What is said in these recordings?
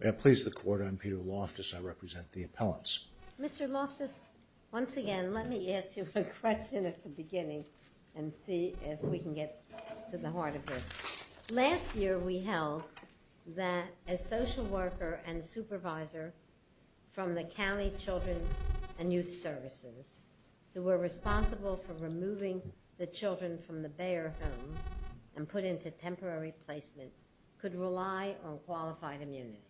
May I please the court I'm Peter Loftus I represent the appellants. Mr. Loftus once again let me ask you a question at the beginning and see if we can get to the heart of this. Last year we held that a social worker and supervisor from the County Children and Youth Services who were responsible for removing the children from the Bayer home and put into temporary placement could rely on qualified immunity.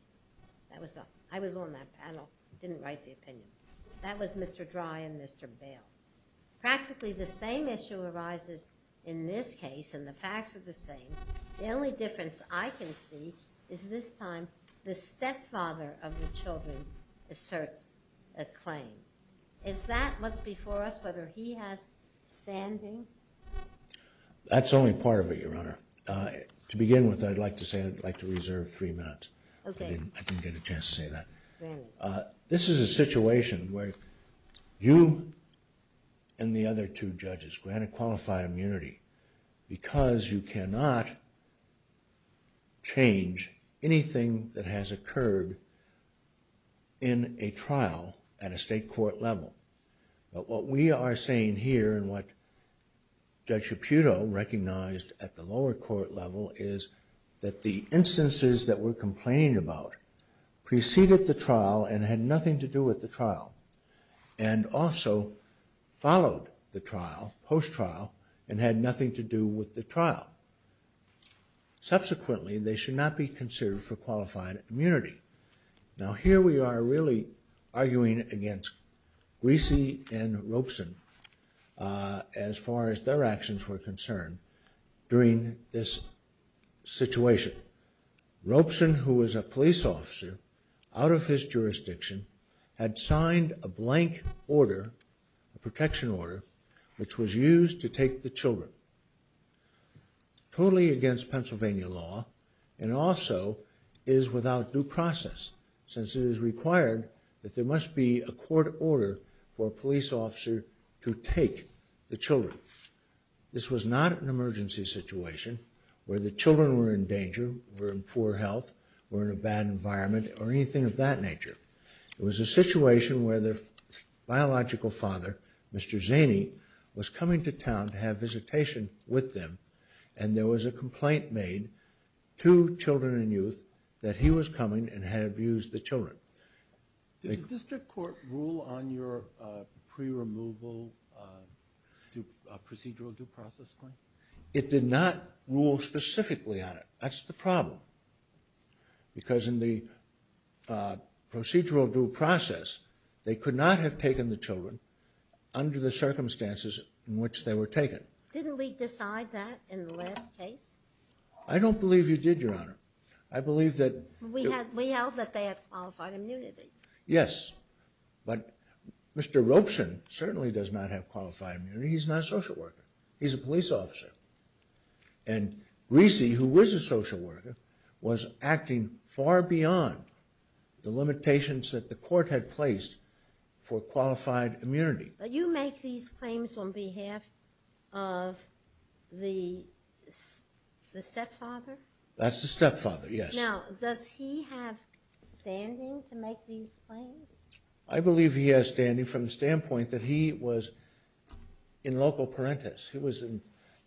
That was I was on that panel didn't write the opinion. That was Mr. Dry and Mr. Bail. Practically the same issue arises in this case and the facts are the same. The only difference I can see is this time the stepfather of the children asserts a claim. Is that what's before us whether he has standing? That's only part of it your honor. To begin with I'd like to say I'd like to This is a situation where you and the other two judges grant a qualified immunity because you cannot change anything that has occurred in a trial at a state court level. But what we are saying here and what Judge Shaputo recognized at the lower court level is that the instances that were complaining about preceded the trial and had nothing to do with the trial and also followed the trial post trial and had nothing to do with the trial. Subsequently they should not be considered for qualified immunity. Now here we are really arguing against Greasy and Ropeson as far as their actions were concerned during this situation. Ropeson who was a police officer out of his jurisdiction had signed a blank order a protection order which was used to take the children totally against Pennsylvania law and also is without due process since it is a court order for a police officer to take the children. This was not an emergency situation where the children were in danger, were in poor health, were in a bad environment or anything of that nature. It was a situation where their biological father Mr. Zaney was coming to town to have visitation with them and there was a complaint made to Children and Youth that he was coming and had used the children. Did the district court rule on your pre-removal procedural due process claim? It did not rule specifically on it. That's the problem because in the procedural due process they could not have taken the children under the circumstances in which they were taken. Didn't we decide that in the last case? I don't believe you did your Yes, but Mr. Ropeson certainly does not have qualified immunity. He's not a social worker. He's a police officer and Recy who was a social worker was acting far beyond the limitations that the court had placed for qualified immunity. But you make these claims on behalf of the stepfather? That's the stepfather, yes. Now, does he have standing to make these claims? I believe he has standing from the standpoint that he was in local parenthesis. He was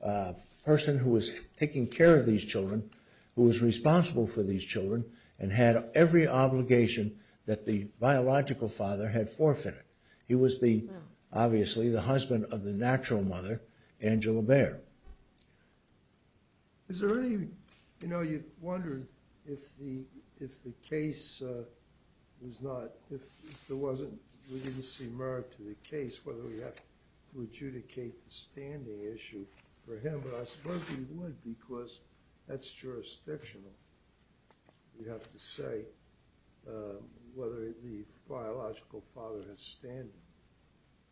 a person who was taking care of these children, who was responsible for these children and had every obligation that the biological father had forfeited. He was the, obviously, the husband of the natural mother, Angela Bair. Is there any, you know, you wondered if the, if the case was not, if there wasn't, we didn't see merit to the case whether we have to adjudicate the standing issue for him, but I suppose we would because that's jurisdictional, you have to say, whether the biological father has standing.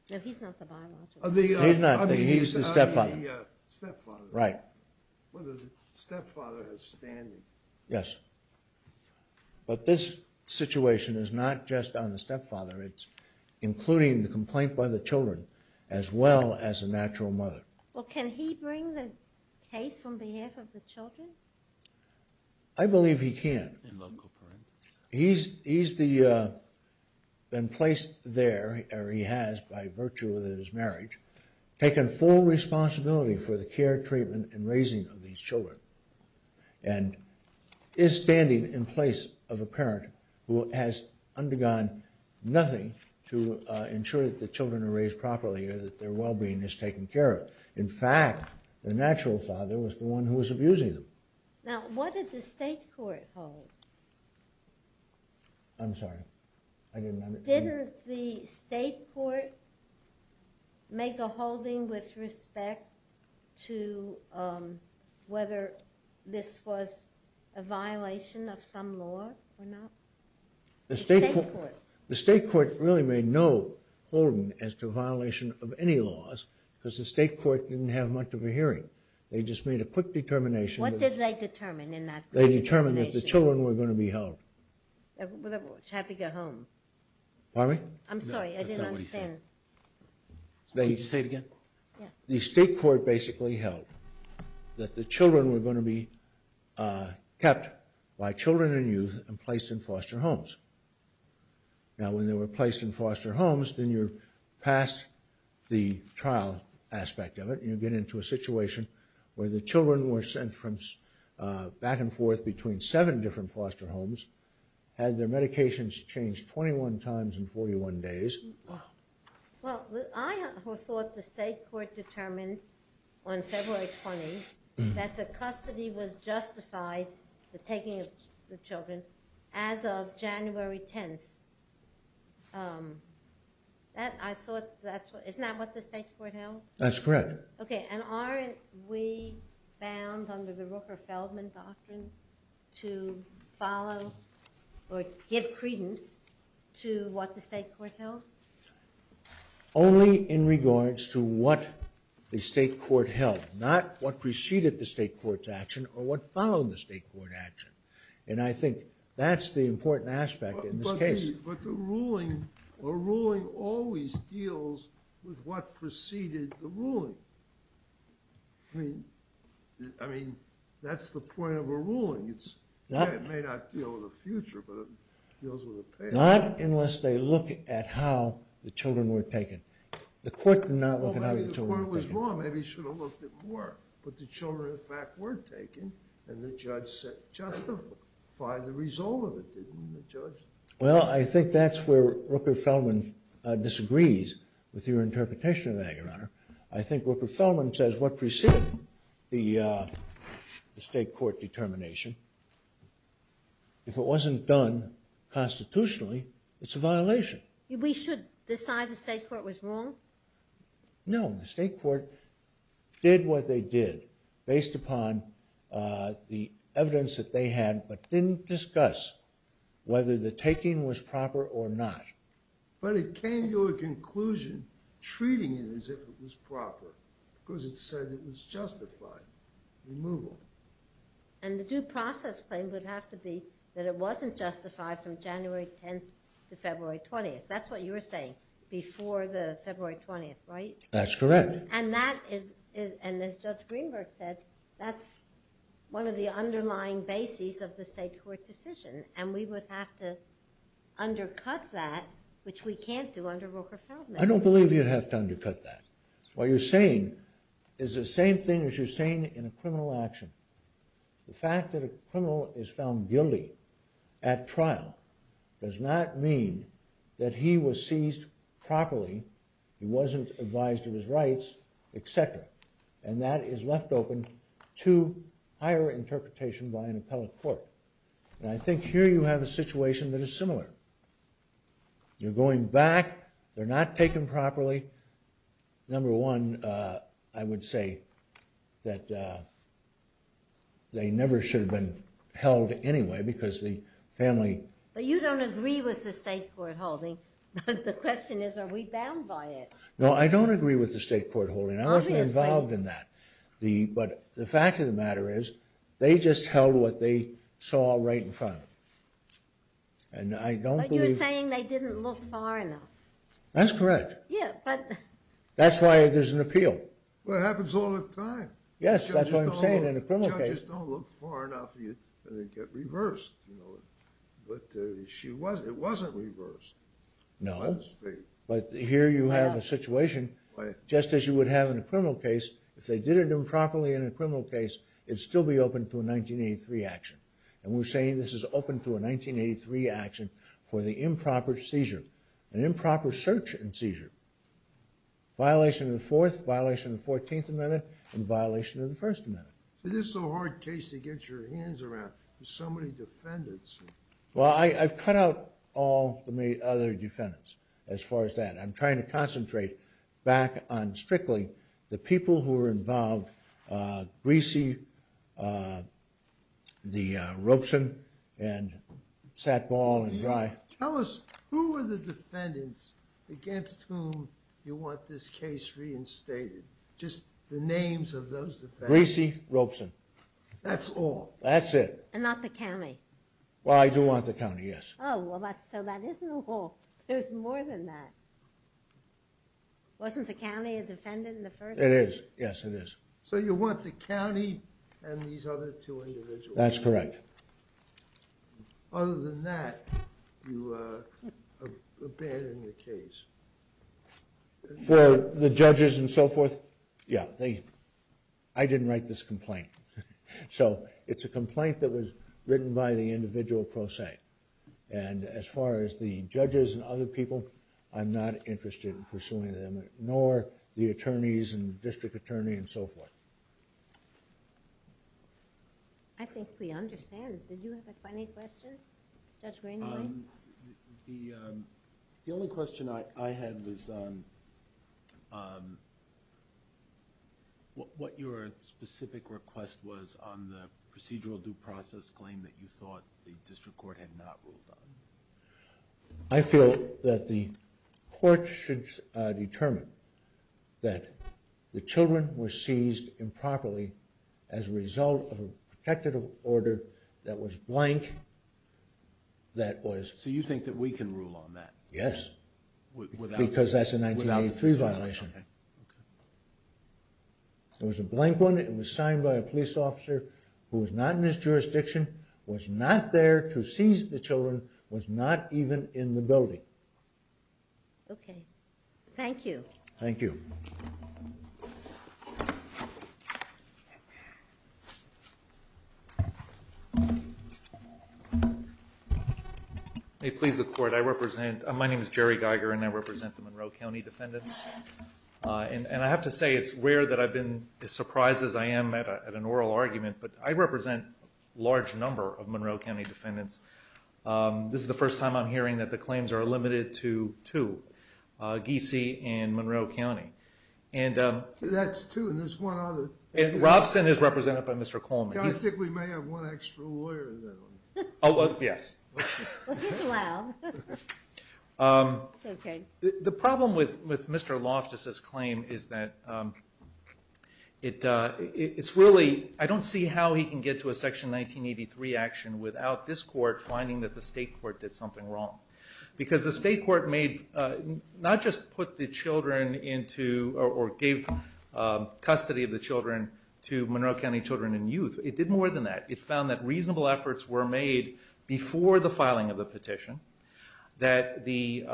No, he's not the biological father. He's not, he's the stepfather. The stepfather. Right. Whether the stepfather has standing. Yes, but this situation is not just on the stepfather, it's including the complaint by the children as well as a natural mother. Well, can he bring the case on he has, by virtue of his marriage, taken full responsibility for the care, treatment, and raising of these children and is standing in place of a parent who has undergone nothing to ensure that the children are raised properly or that their well-being is taken care of. In fact, the natural father was the one who was abusing them. Now, what did the state court hold? I'm sorry, I didn't understand. Did the state court make a holding with respect to whether this was a violation of some law or not? The state court really made no holding as to violation of any laws because the state court didn't have much of a hearing. They just made a quick determination. What did they determine in that quick determination? They determined that the children were going to be held. Which had to go home. Pardon me? I'm sorry, I didn't understand. Can you say it again? Yeah. The state court basically held that the children were going to be kept by children and youth and placed in foster homes. Now, when they were placed in foster homes, then you're past the trial aspect of it. You get into a situation where the children were sent from back and forth between seven different foster homes, had their medications changed 21 times in 41 days. Well, I thought the state court determined on February 20th that the custody was justified, the taking of the children, as of January 10th. Isn't that what the state court held? That's correct. Okay, and aren't we bound under the Rooker-Feldman doctrine to follow or give credence to what the state court held? Only in regards to what the state court held, not what preceded the state court's action or what followed the state court action. And I think that's the important aspect in this case. But the ruling, a ruling always deals with what preceded the ruling. I mean, that's the point of a ruling. It may not deal with the future, but it deals with the past. Not unless they look at how the children were taken. The court did not look at how the children were taken. Well, maybe the court was wrong. Maybe it should have looked at more. But the children, in fact, were taken, and the judge said justify the result of it, didn't the judge? Well, I think that's where Rooker-Feldman disagrees with your interpretation of that, Your Honor. I think Rooker-Feldman says what preceded the state court determination, if it wasn't done constitutionally, it's a violation. We should decide the state court was wrong? No, the state court did what they did based upon the evidence that they had, but didn't discuss whether the taking was proper or not. But it came to a conclusion treating it as if it was proper because it said it was justified removal. And the due process claim would have to be that it wasn't justified from January 10th to February 20th. That's what you were saying before the February 20th, right? That's correct. And that is, and as Judge Greenberg said, that's one of the underlying bases of the state court decision, and we would have to undercut that, which we can't do under Rooker-Feldman. I don't believe you'd have to undercut that. What you're saying is the same thing as you're saying in a criminal action. The fact that a criminal is found guilty at trial does not mean that he was seized properly, he wasn't advised of his rights, etc. And that is left open to higher interpretation by an appellate court. And I think here you have a situation that is similar. You're going back, they're not taken properly. Number one, I would say that they never should have been held anyway because the family... But you don't agree with the state court holding. The question is, are we bound by it? No, I don't agree with the state court holding. Obviously. But the fact of the matter is, they just held what they saw right in front of them. But you're saying they didn't look far enough. That's correct. Yeah, but... That's why there's an appeal. Well, it happens all the time. Yes, that's what I'm saying in a criminal case. Judges don't look far enough and they get reversed. But it wasn't reversed by the state. But here you have a situation, just as you would have in a criminal case, if they did it improperly in a criminal case, it'd still be open to a 1983 action. And we're saying this is open to a 1983 action for the improper seizure. An improper search and seizure. Violation of the Fourth, violation of the Fourteenth Amendment, and violation of the First Amendment. This is a hard case to get your hands around. There's so many defendants. Well, I've cut out all the other defendants as far as that. I'm trying to concentrate back on strictly the people who were involved. Greasy, the Ropeson, and Sattball and Dry. Tell us, who were the defendants against whom you want this case reinstated? Just the names of those defendants. Greasy, Ropeson. That's all? That's it. And not the county? Well, I do want the county, yes. Oh, well, that's so bad. There's more than that. Wasn't the county a defendant in the first case? It is. Yes, it is. So you want the county and these other two individuals? That's correct. Other than that, you abandon the case? For the judges and so forth? Yeah. I didn't write this complaint. So it's a complaint that was written by the individual pro se, and as far as the judges and other people, I'm not interested in pursuing them, nor the attorneys and district attorney and so forth. I think we understand. Did you have any questions, Judge Rainey? The only question I had was what your specific request was on the procedural due process claim that you thought the district court had not ruled on. I feel that the court should determine that the children were seized improperly as a result of a protective order that was blank, that was... So you think that we can rule on that? Yes, because that's a 1983 violation. It was a blank one, it was signed by a police officer who was not in his jurisdiction, was not there to seize the children, was not even in the building. Okay. Thank you. Thank you. May it please the court, I represent... My name is Jerry Geiger and I represent the Monroe County defendants. And I have to say it's rare that I've been as surprised as I am at an oral argument, but I represent a large number of Monroe County defendants. This is the first time I'm hearing that the claims are limited to two, Giese and Monroe County. That's two and there's one other. Robson is represented by Mr. Coleman. I think we may have one extra lawyer in that one. Oh, yes. Well, he's allowed. It's okay. The problem with Mr. Loftus' claim is that it's really... I don't see how he can get to a Section 1983 action without this court finding that the state court did something wrong. Because the state court may not just put the children into or gave custody of the children to Monroe County Children and Youth. It did more than that. It found that reasonable efforts were made before the filing of the petition, that the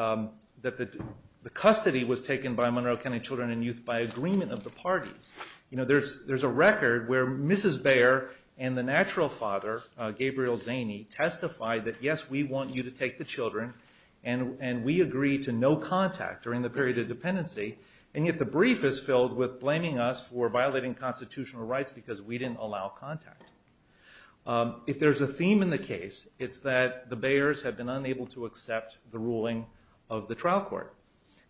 custody was taken by Monroe County Children and Youth by agreement of the parties. You know, there's a record where Mrs. Bayer and the natural father, Gabriel Zaney, testified that, yes, we want you to take the children and we agree to no contact during the period of dependency. And yet the brief is filled with blaming us for violating constitutional rights because we didn't allow contact. If there's a theme in the case, it's that the Bayers have been unable to accept the ruling of the trial court.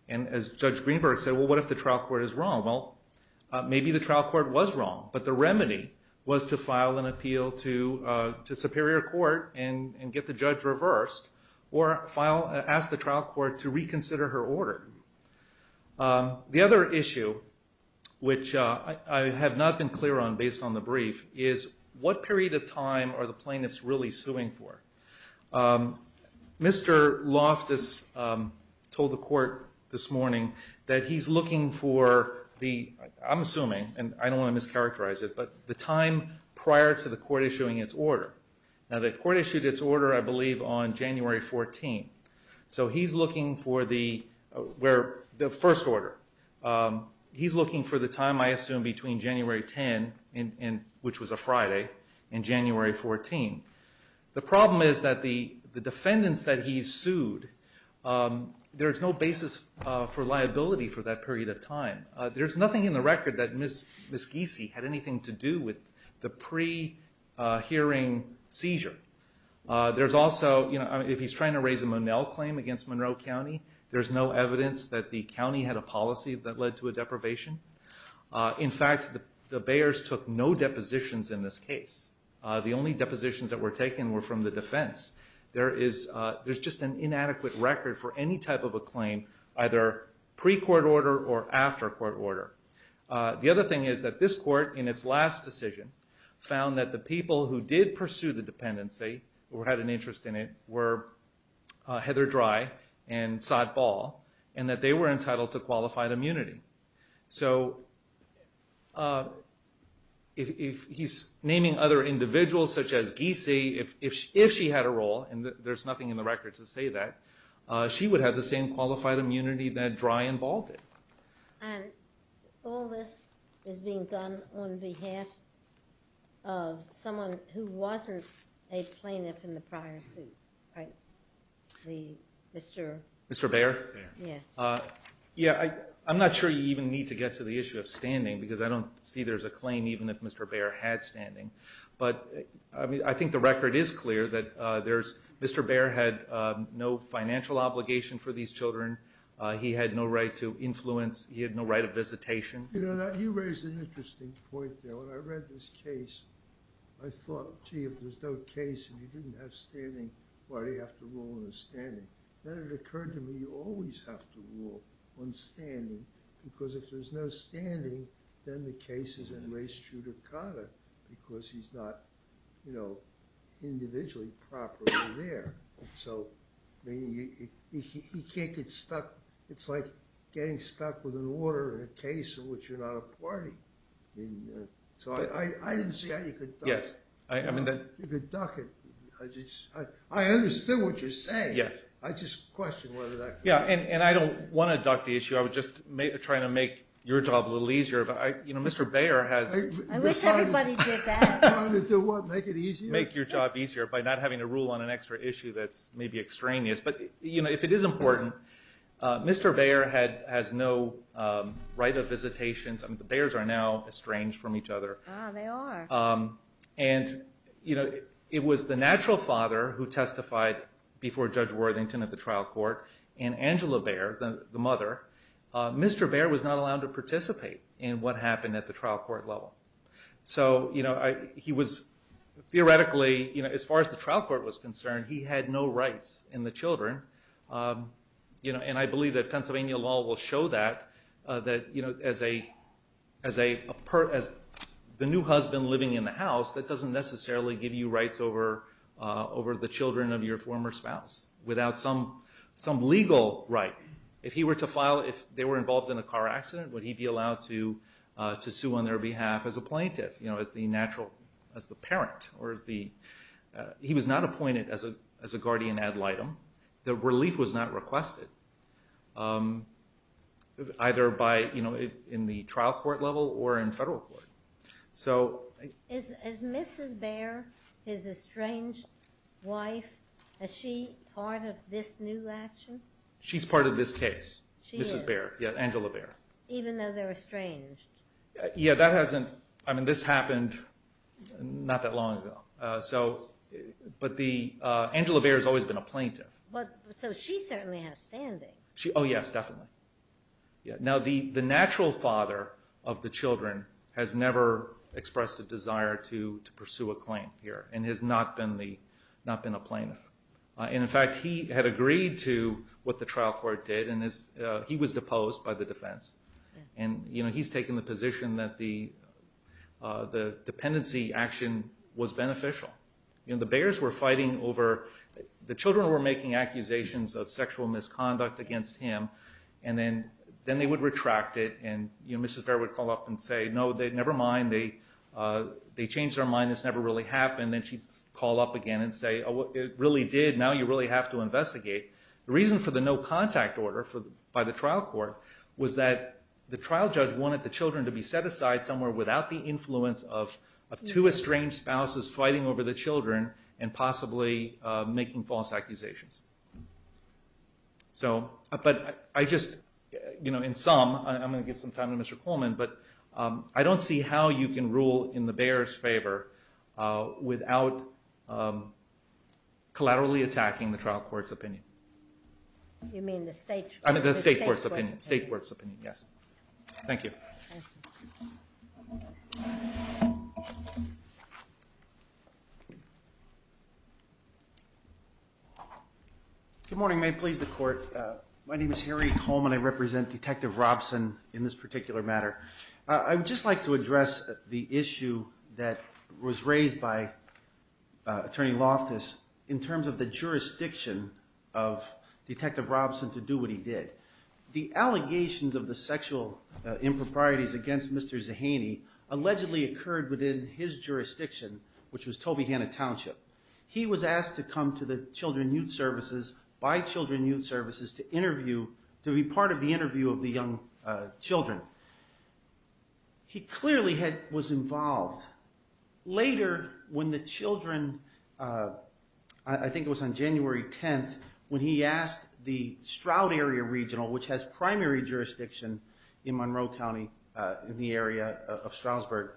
And as Judge Greenberg said, well, what if the trial court is wrong? Well, maybe the trial court was wrong, but the remedy was to file an appeal to superior court and get the judge reversed or ask the trial court to reconsider her order. The other issue, which I have not been clear on based on the brief, is what period of time are the plaintiffs really suing for? Mr. Loftus told the court this morning that he's looking for the, I'm assuming, and I don't want to mischaracterize it, but the time prior to the court issuing its order. Now the court issued its order, I believe, on January 14. So he's looking for the first order. He's looking for the time, I assume, between January 10, which was a Friday, and January 14. The problem is that the defendants that he sued, there's no basis for liability for that period of time. There's nothing in the record that Ms. Giese had anything to do with the pre-hearing seizure. There's also, if he's trying to raise a Monell claim against Monroe County, there's no evidence that the county had a policy that led to a deprivation. In fact, the Bayers took no depositions in this case. The only depositions that were taken were from the defense. There's just an inadequate record for any type of a claim, either pre-court order or after court order. The other thing is that this court, in its last decision, found that the people who did pursue the dependency, or had an interest in it, were Heather Dry and Sod Ball, and that they were entitled to qualified immunity. So if he's naming other individuals, such as Giese, if she had a role, and there's nothing in the record to say that, she would have the same qualified immunity that Dry and Ball did. And all this is being done on behalf of someone who wasn't a plaintiff in the prior suit, right? Mr. Bayer? Yeah, I'm not sure you even need to get to the issue of standing, because I don't see there's a claim even if Mr. Bayer had standing. I think the record is clear that Mr. Bayer had no financial obligation for these children. He had no right to influence. He had no right of visitation. You know, you raise an interesting point there. When I read this case, I thought, gee, if there's no case, and you didn't have standing, why do you have to rule on standing? Then it occurred to me, you always have to rule on standing, because if there's no standing, then the case is in res judicata, because he's not individually properly there. So he can't get stuck. It's like getting stuck with an order in a case in which you're not a party. So I didn't see how you could duck it. You could duck it. I understand what you're saying. I just question whether that could be done. Yeah, and I don't want to duck the issue. I was just trying to make your job a little easier. I wish everybody did that. Trying to do what, make it easier? Make your job easier by not having to rule on an extra issue that's maybe extraneous. But, you know, if it is important, Mr. Baer has no right of visitation. The Baers are now estranged from each other. Ah, they are. And, you know, it was the natural father who testified before Judge Worthington at the trial court, and Angela Baer, the mother, Mr. Baer was not allowed to participate in what happened at the trial court level. So, you know, he was theoretically, as far as the trial court was concerned, he had no rights in the children. And I believe that Pennsylvania law will show that, that as the new husband living in the house, that doesn't necessarily give you rights over the children of your former spouse without some legal right. If he were to file, if they were involved in a car accident, would he be allowed to sue on their behalf as a plaintiff, you know, as the natural, as the parent, or as the, he was not appointed as a guardian ad litem. The relief was not requested, either by, you know, in the trial court level or in federal court. So... Is Mrs. Baer, his estranged wife, is she part of this new action? She's part of this case. Mrs. Baer, yeah, Angela Baer. Even though they're estranged. Yeah, that hasn't, I mean, this happened not that long ago. So, but the, Angela Baer has always been a plaintiff. So she certainly has standing. Oh, yes, definitely. Now, the natural father of the children has never expressed a desire to pursue a claim here and has not been the, not been a plaintiff. And, in fact, he had agreed to what the trial court did, and he was deposed by the defense. And, you know, he's taken the position that the dependency action was beneficial. You know, the Baers were fighting over, the children were making accusations of sexual misconduct against him, and then they would retract it, and, you know, Mrs. Baer would call up and say, no, never mind, they changed their mind, this never really happened, and then she'd call up again and say, oh, it really did, now you really have to investigate. The reason for the no contact order by the trial court was that the trial judge wanted the children to be set aside somewhere without the influence of two estranged spouses fighting over the children and possibly making false accusations. So, but I just, you know, in sum, I'm going to give some time to Mr. Coleman, but I don't see how you can rule in the Baers' favor without collaterally attacking the trial court's opinion. You mean the state court's opinion? I mean the state court's opinion, yes. Thank you. Good morning, may it please the court. My name is Harry Coleman, I represent Detective Robson in this particular matter. I would just like to address the issue that was raised by Attorney Loftus in terms of the jurisdiction of Detective Robson to do what he did. The allegations of the sexual improprieties against Mr. Zahaini allegedly occurred within his jurisdiction, which was Tobyhanna Township. He was asked to come to the children youth services, by children youth services, to interview, to be part of the interview of the young children. He clearly was involved. Later, when the children, I think it was on January 10th, when he asked the Stroud Area Regional, which has primary jurisdiction in Monroe County, in the area of Stroudsburg,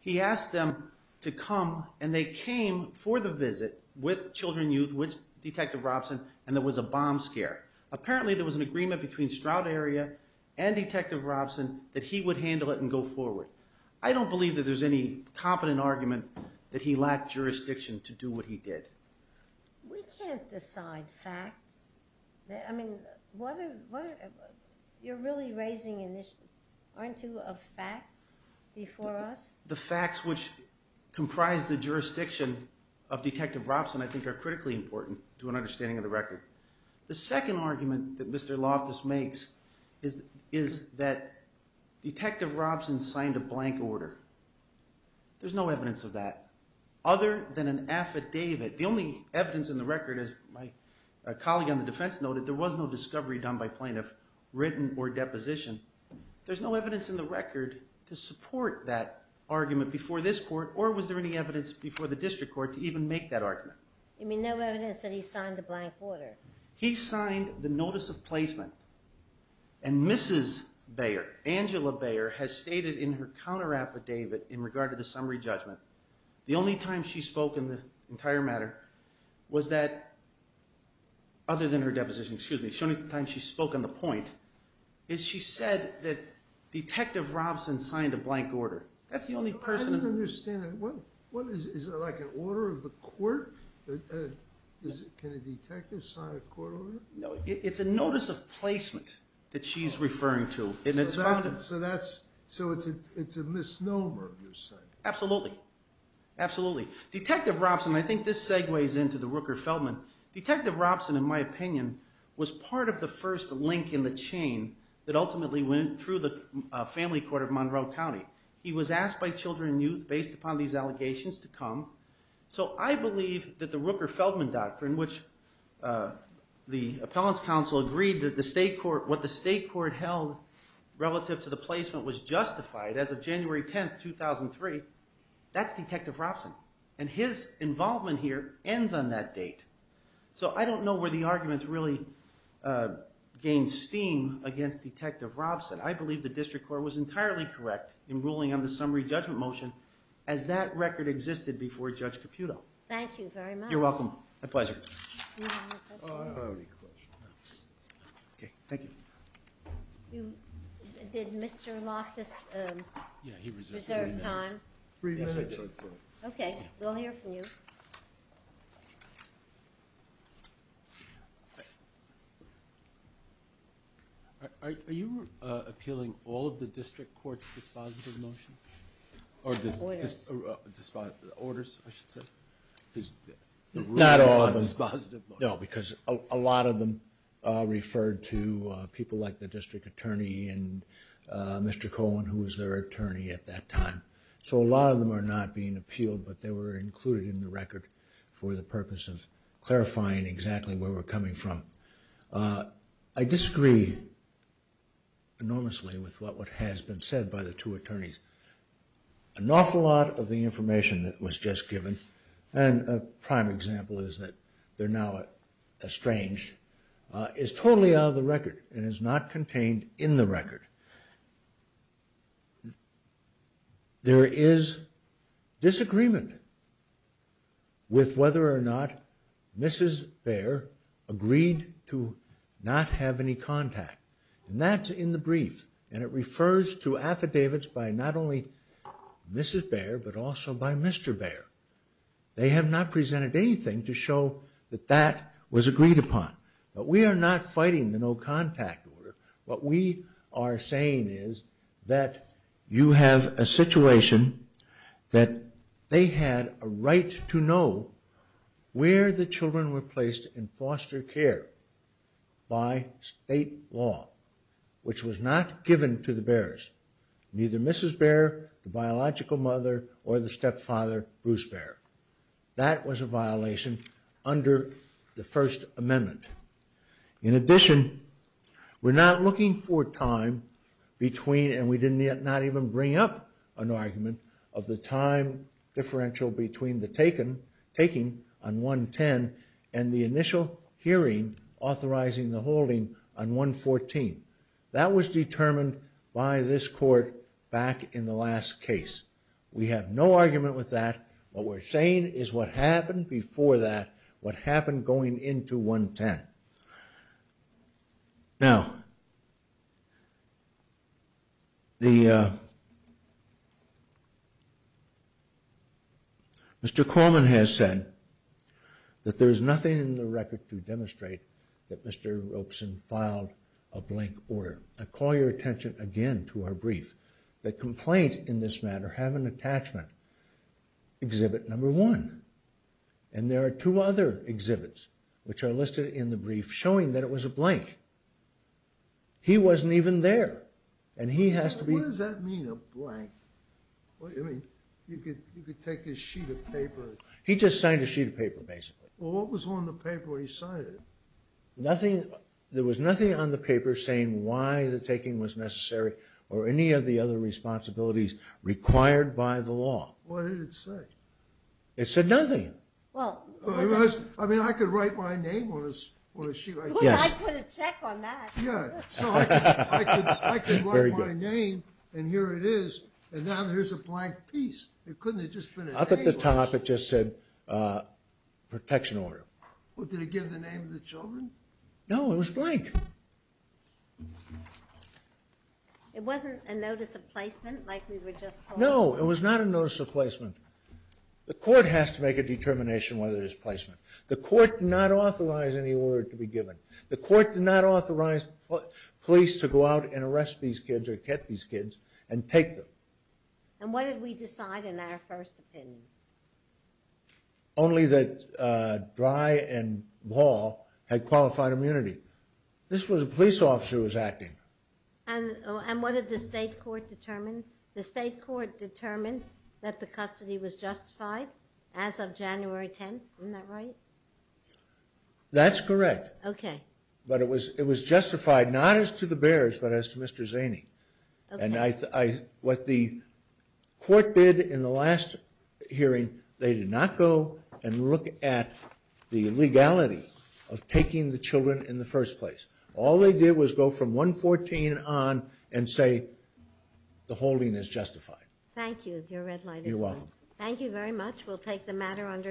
he asked them to come and they came for the visit with children youth, with Detective Robson, and there was a bomb scare. Apparently there was an agreement between Stroud Area and Detective Robson that he would handle it and go forward. I don't believe that there's any competent argument that he lacked jurisdiction to do what he did. We can't decide facts. I mean, you're really raising an issue. Aren't you of facts before us? The facts which comprise the jurisdiction of Detective Robson, I think are critically important to an understanding of the record. The second argument that Mr. Loftus makes is that Detective Robson signed a blank order. There's no evidence of that. Other than an affidavit, the only evidence in the record, as my colleague on the defense noted, there was no discovery done by plaintiff, written or deposition. There's no evidence in the record to support that argument before this court, or was there any evidence before the district court to even make that argument? You mean no evidence that he signed a blank order? He signed the notice of placement, and Mrs. Bayer, Angela Bayer, has stated in her counter-affidavit in regard to the summary judgment, the only time she spoke in the entire matter was that, other than her deposition, excuse me, the only time she spoke on the point, is she said that Detective Robson signed a blank order. I don't understand that. Is it like an order of the court? Can a detective sign a court order? No, it's a notice of placement that she's referring to. So it's a misnomer, you're saying? Absolutely. Detective Robson, and I think this segues into the Rooker-Feldman, Detective Robson, in my opinion, was part of the first link in the chain that ultimately went through the family court of Monroe County. He was asked by children and youth, based upon these allegations, to come. So I believe that the Rooker-Feldman doctrine, which the appellant's counsel agreed that what the state court held relative to the placement was justified as of January 10, 2003, that's Detective Robson. And his involvement here ends on that date. So I don't know where the arguments really gain steam against Detective Robson. I believe the district court was entirely correct in ruling on the summary judgment motion as that record existed before Judge Caputo. Thank you very much. You're welcome. My pleasure. Do you have a question? I don't have any questions. Okay, thank you. Did Mr. Loftus reserve time? Three minutes. Okay, we'll hear from you. Thank you. Are you appealing all of the district court's dispositive motions? Or orders, I should say. Not all of them. No, because a lot of them referred to people like the district attorney and Mr. Cohen, who was their attorney at that time. So a lot of them are not being appealed, but they were included in the record for the purpose of clarifying exactly where we're coming from. I disagree enormously with what has been said by the two attorneys. An awful lot of the information that was just given, and a prime example is that they're now estranged, is totally out of the record and is not contained in the record. There is disagreement with whether or not Mrs. Baer agreed to not have any contact. And that's in the brief. And it refers to affidavits by not only Mrs. Baer, but also by Mr. Baer. They have not presented anything to show that that was agreed upon. But we are not fighting the no contact order. What we are saying is that you have a situation that they had a right to know where the children were placed in foster care by state law, which was not given to the Baers. Neither Mrs. Baer, the biological mother, or the stepfather, Bruce Baer. That was a violation under the First Amendment. In addition, we're not looking for time between, and we did not even bring up an argument, of the time differential between the taking on 110 and the initial hearing authorizing the holding on 114. That was determined by this court back in the last case. We have no argument with that. What we're saying is what happened before that, what happened going into 110. Now, Mr. Corman has said that there is nothing in the record to demonstrate that Mr. Ropeson filed a blank order. I call your attention again to our brief. The complaint in this matter have an attachment, exhibit number one. And there are two other exhibits, which are listed in the brief, showing that it was a blank. He wasn't even there. And he has to be... What does that mean, a blank? I mean, you could take a sheet of paper... He just signed a sheet of paper, basically. Well, what was on the paper where he signed it? Nothing. There was nothing on the paper saying why the taking was necessary or any of the other responsibilities required by the law. What did it say? It said nothing. Well, it was... I mean, I could write my name on a sheet like that. Well, I'd put a check on that. Yeah, so I could write my name, and here it is. And now there's a blank piece. It couldn't have just been... Up at the top, it just said protection order. Well, did it give the name of the children? No, it was blank. It wasn't a notice of placement, like we were just... No, it was not a notice of placement. The court has to make a determination whether there's placement. The court did not authorize any order to be given. The court did not authorize police to go out and arrest these kids or catch these kids and take them. And what did we decide in our first opinion? Only that Dry and Ball had qualified immunity. This was a police officer who was acting. And what did the state court determine? The state court determined that the custody was justified as of January 10th. Isn't that right? That's correct. Okay. But it was justified, not as to the Bears, but as to Mr. Zaney. And what the court did in the last hearing, they did not go and look at the legality of taking the children in the first place. All they did was go from 114 on and say the holding is justified. Thank you. Your red light is on. You're welcome. Thank you very much. We'll take the matter under advisement.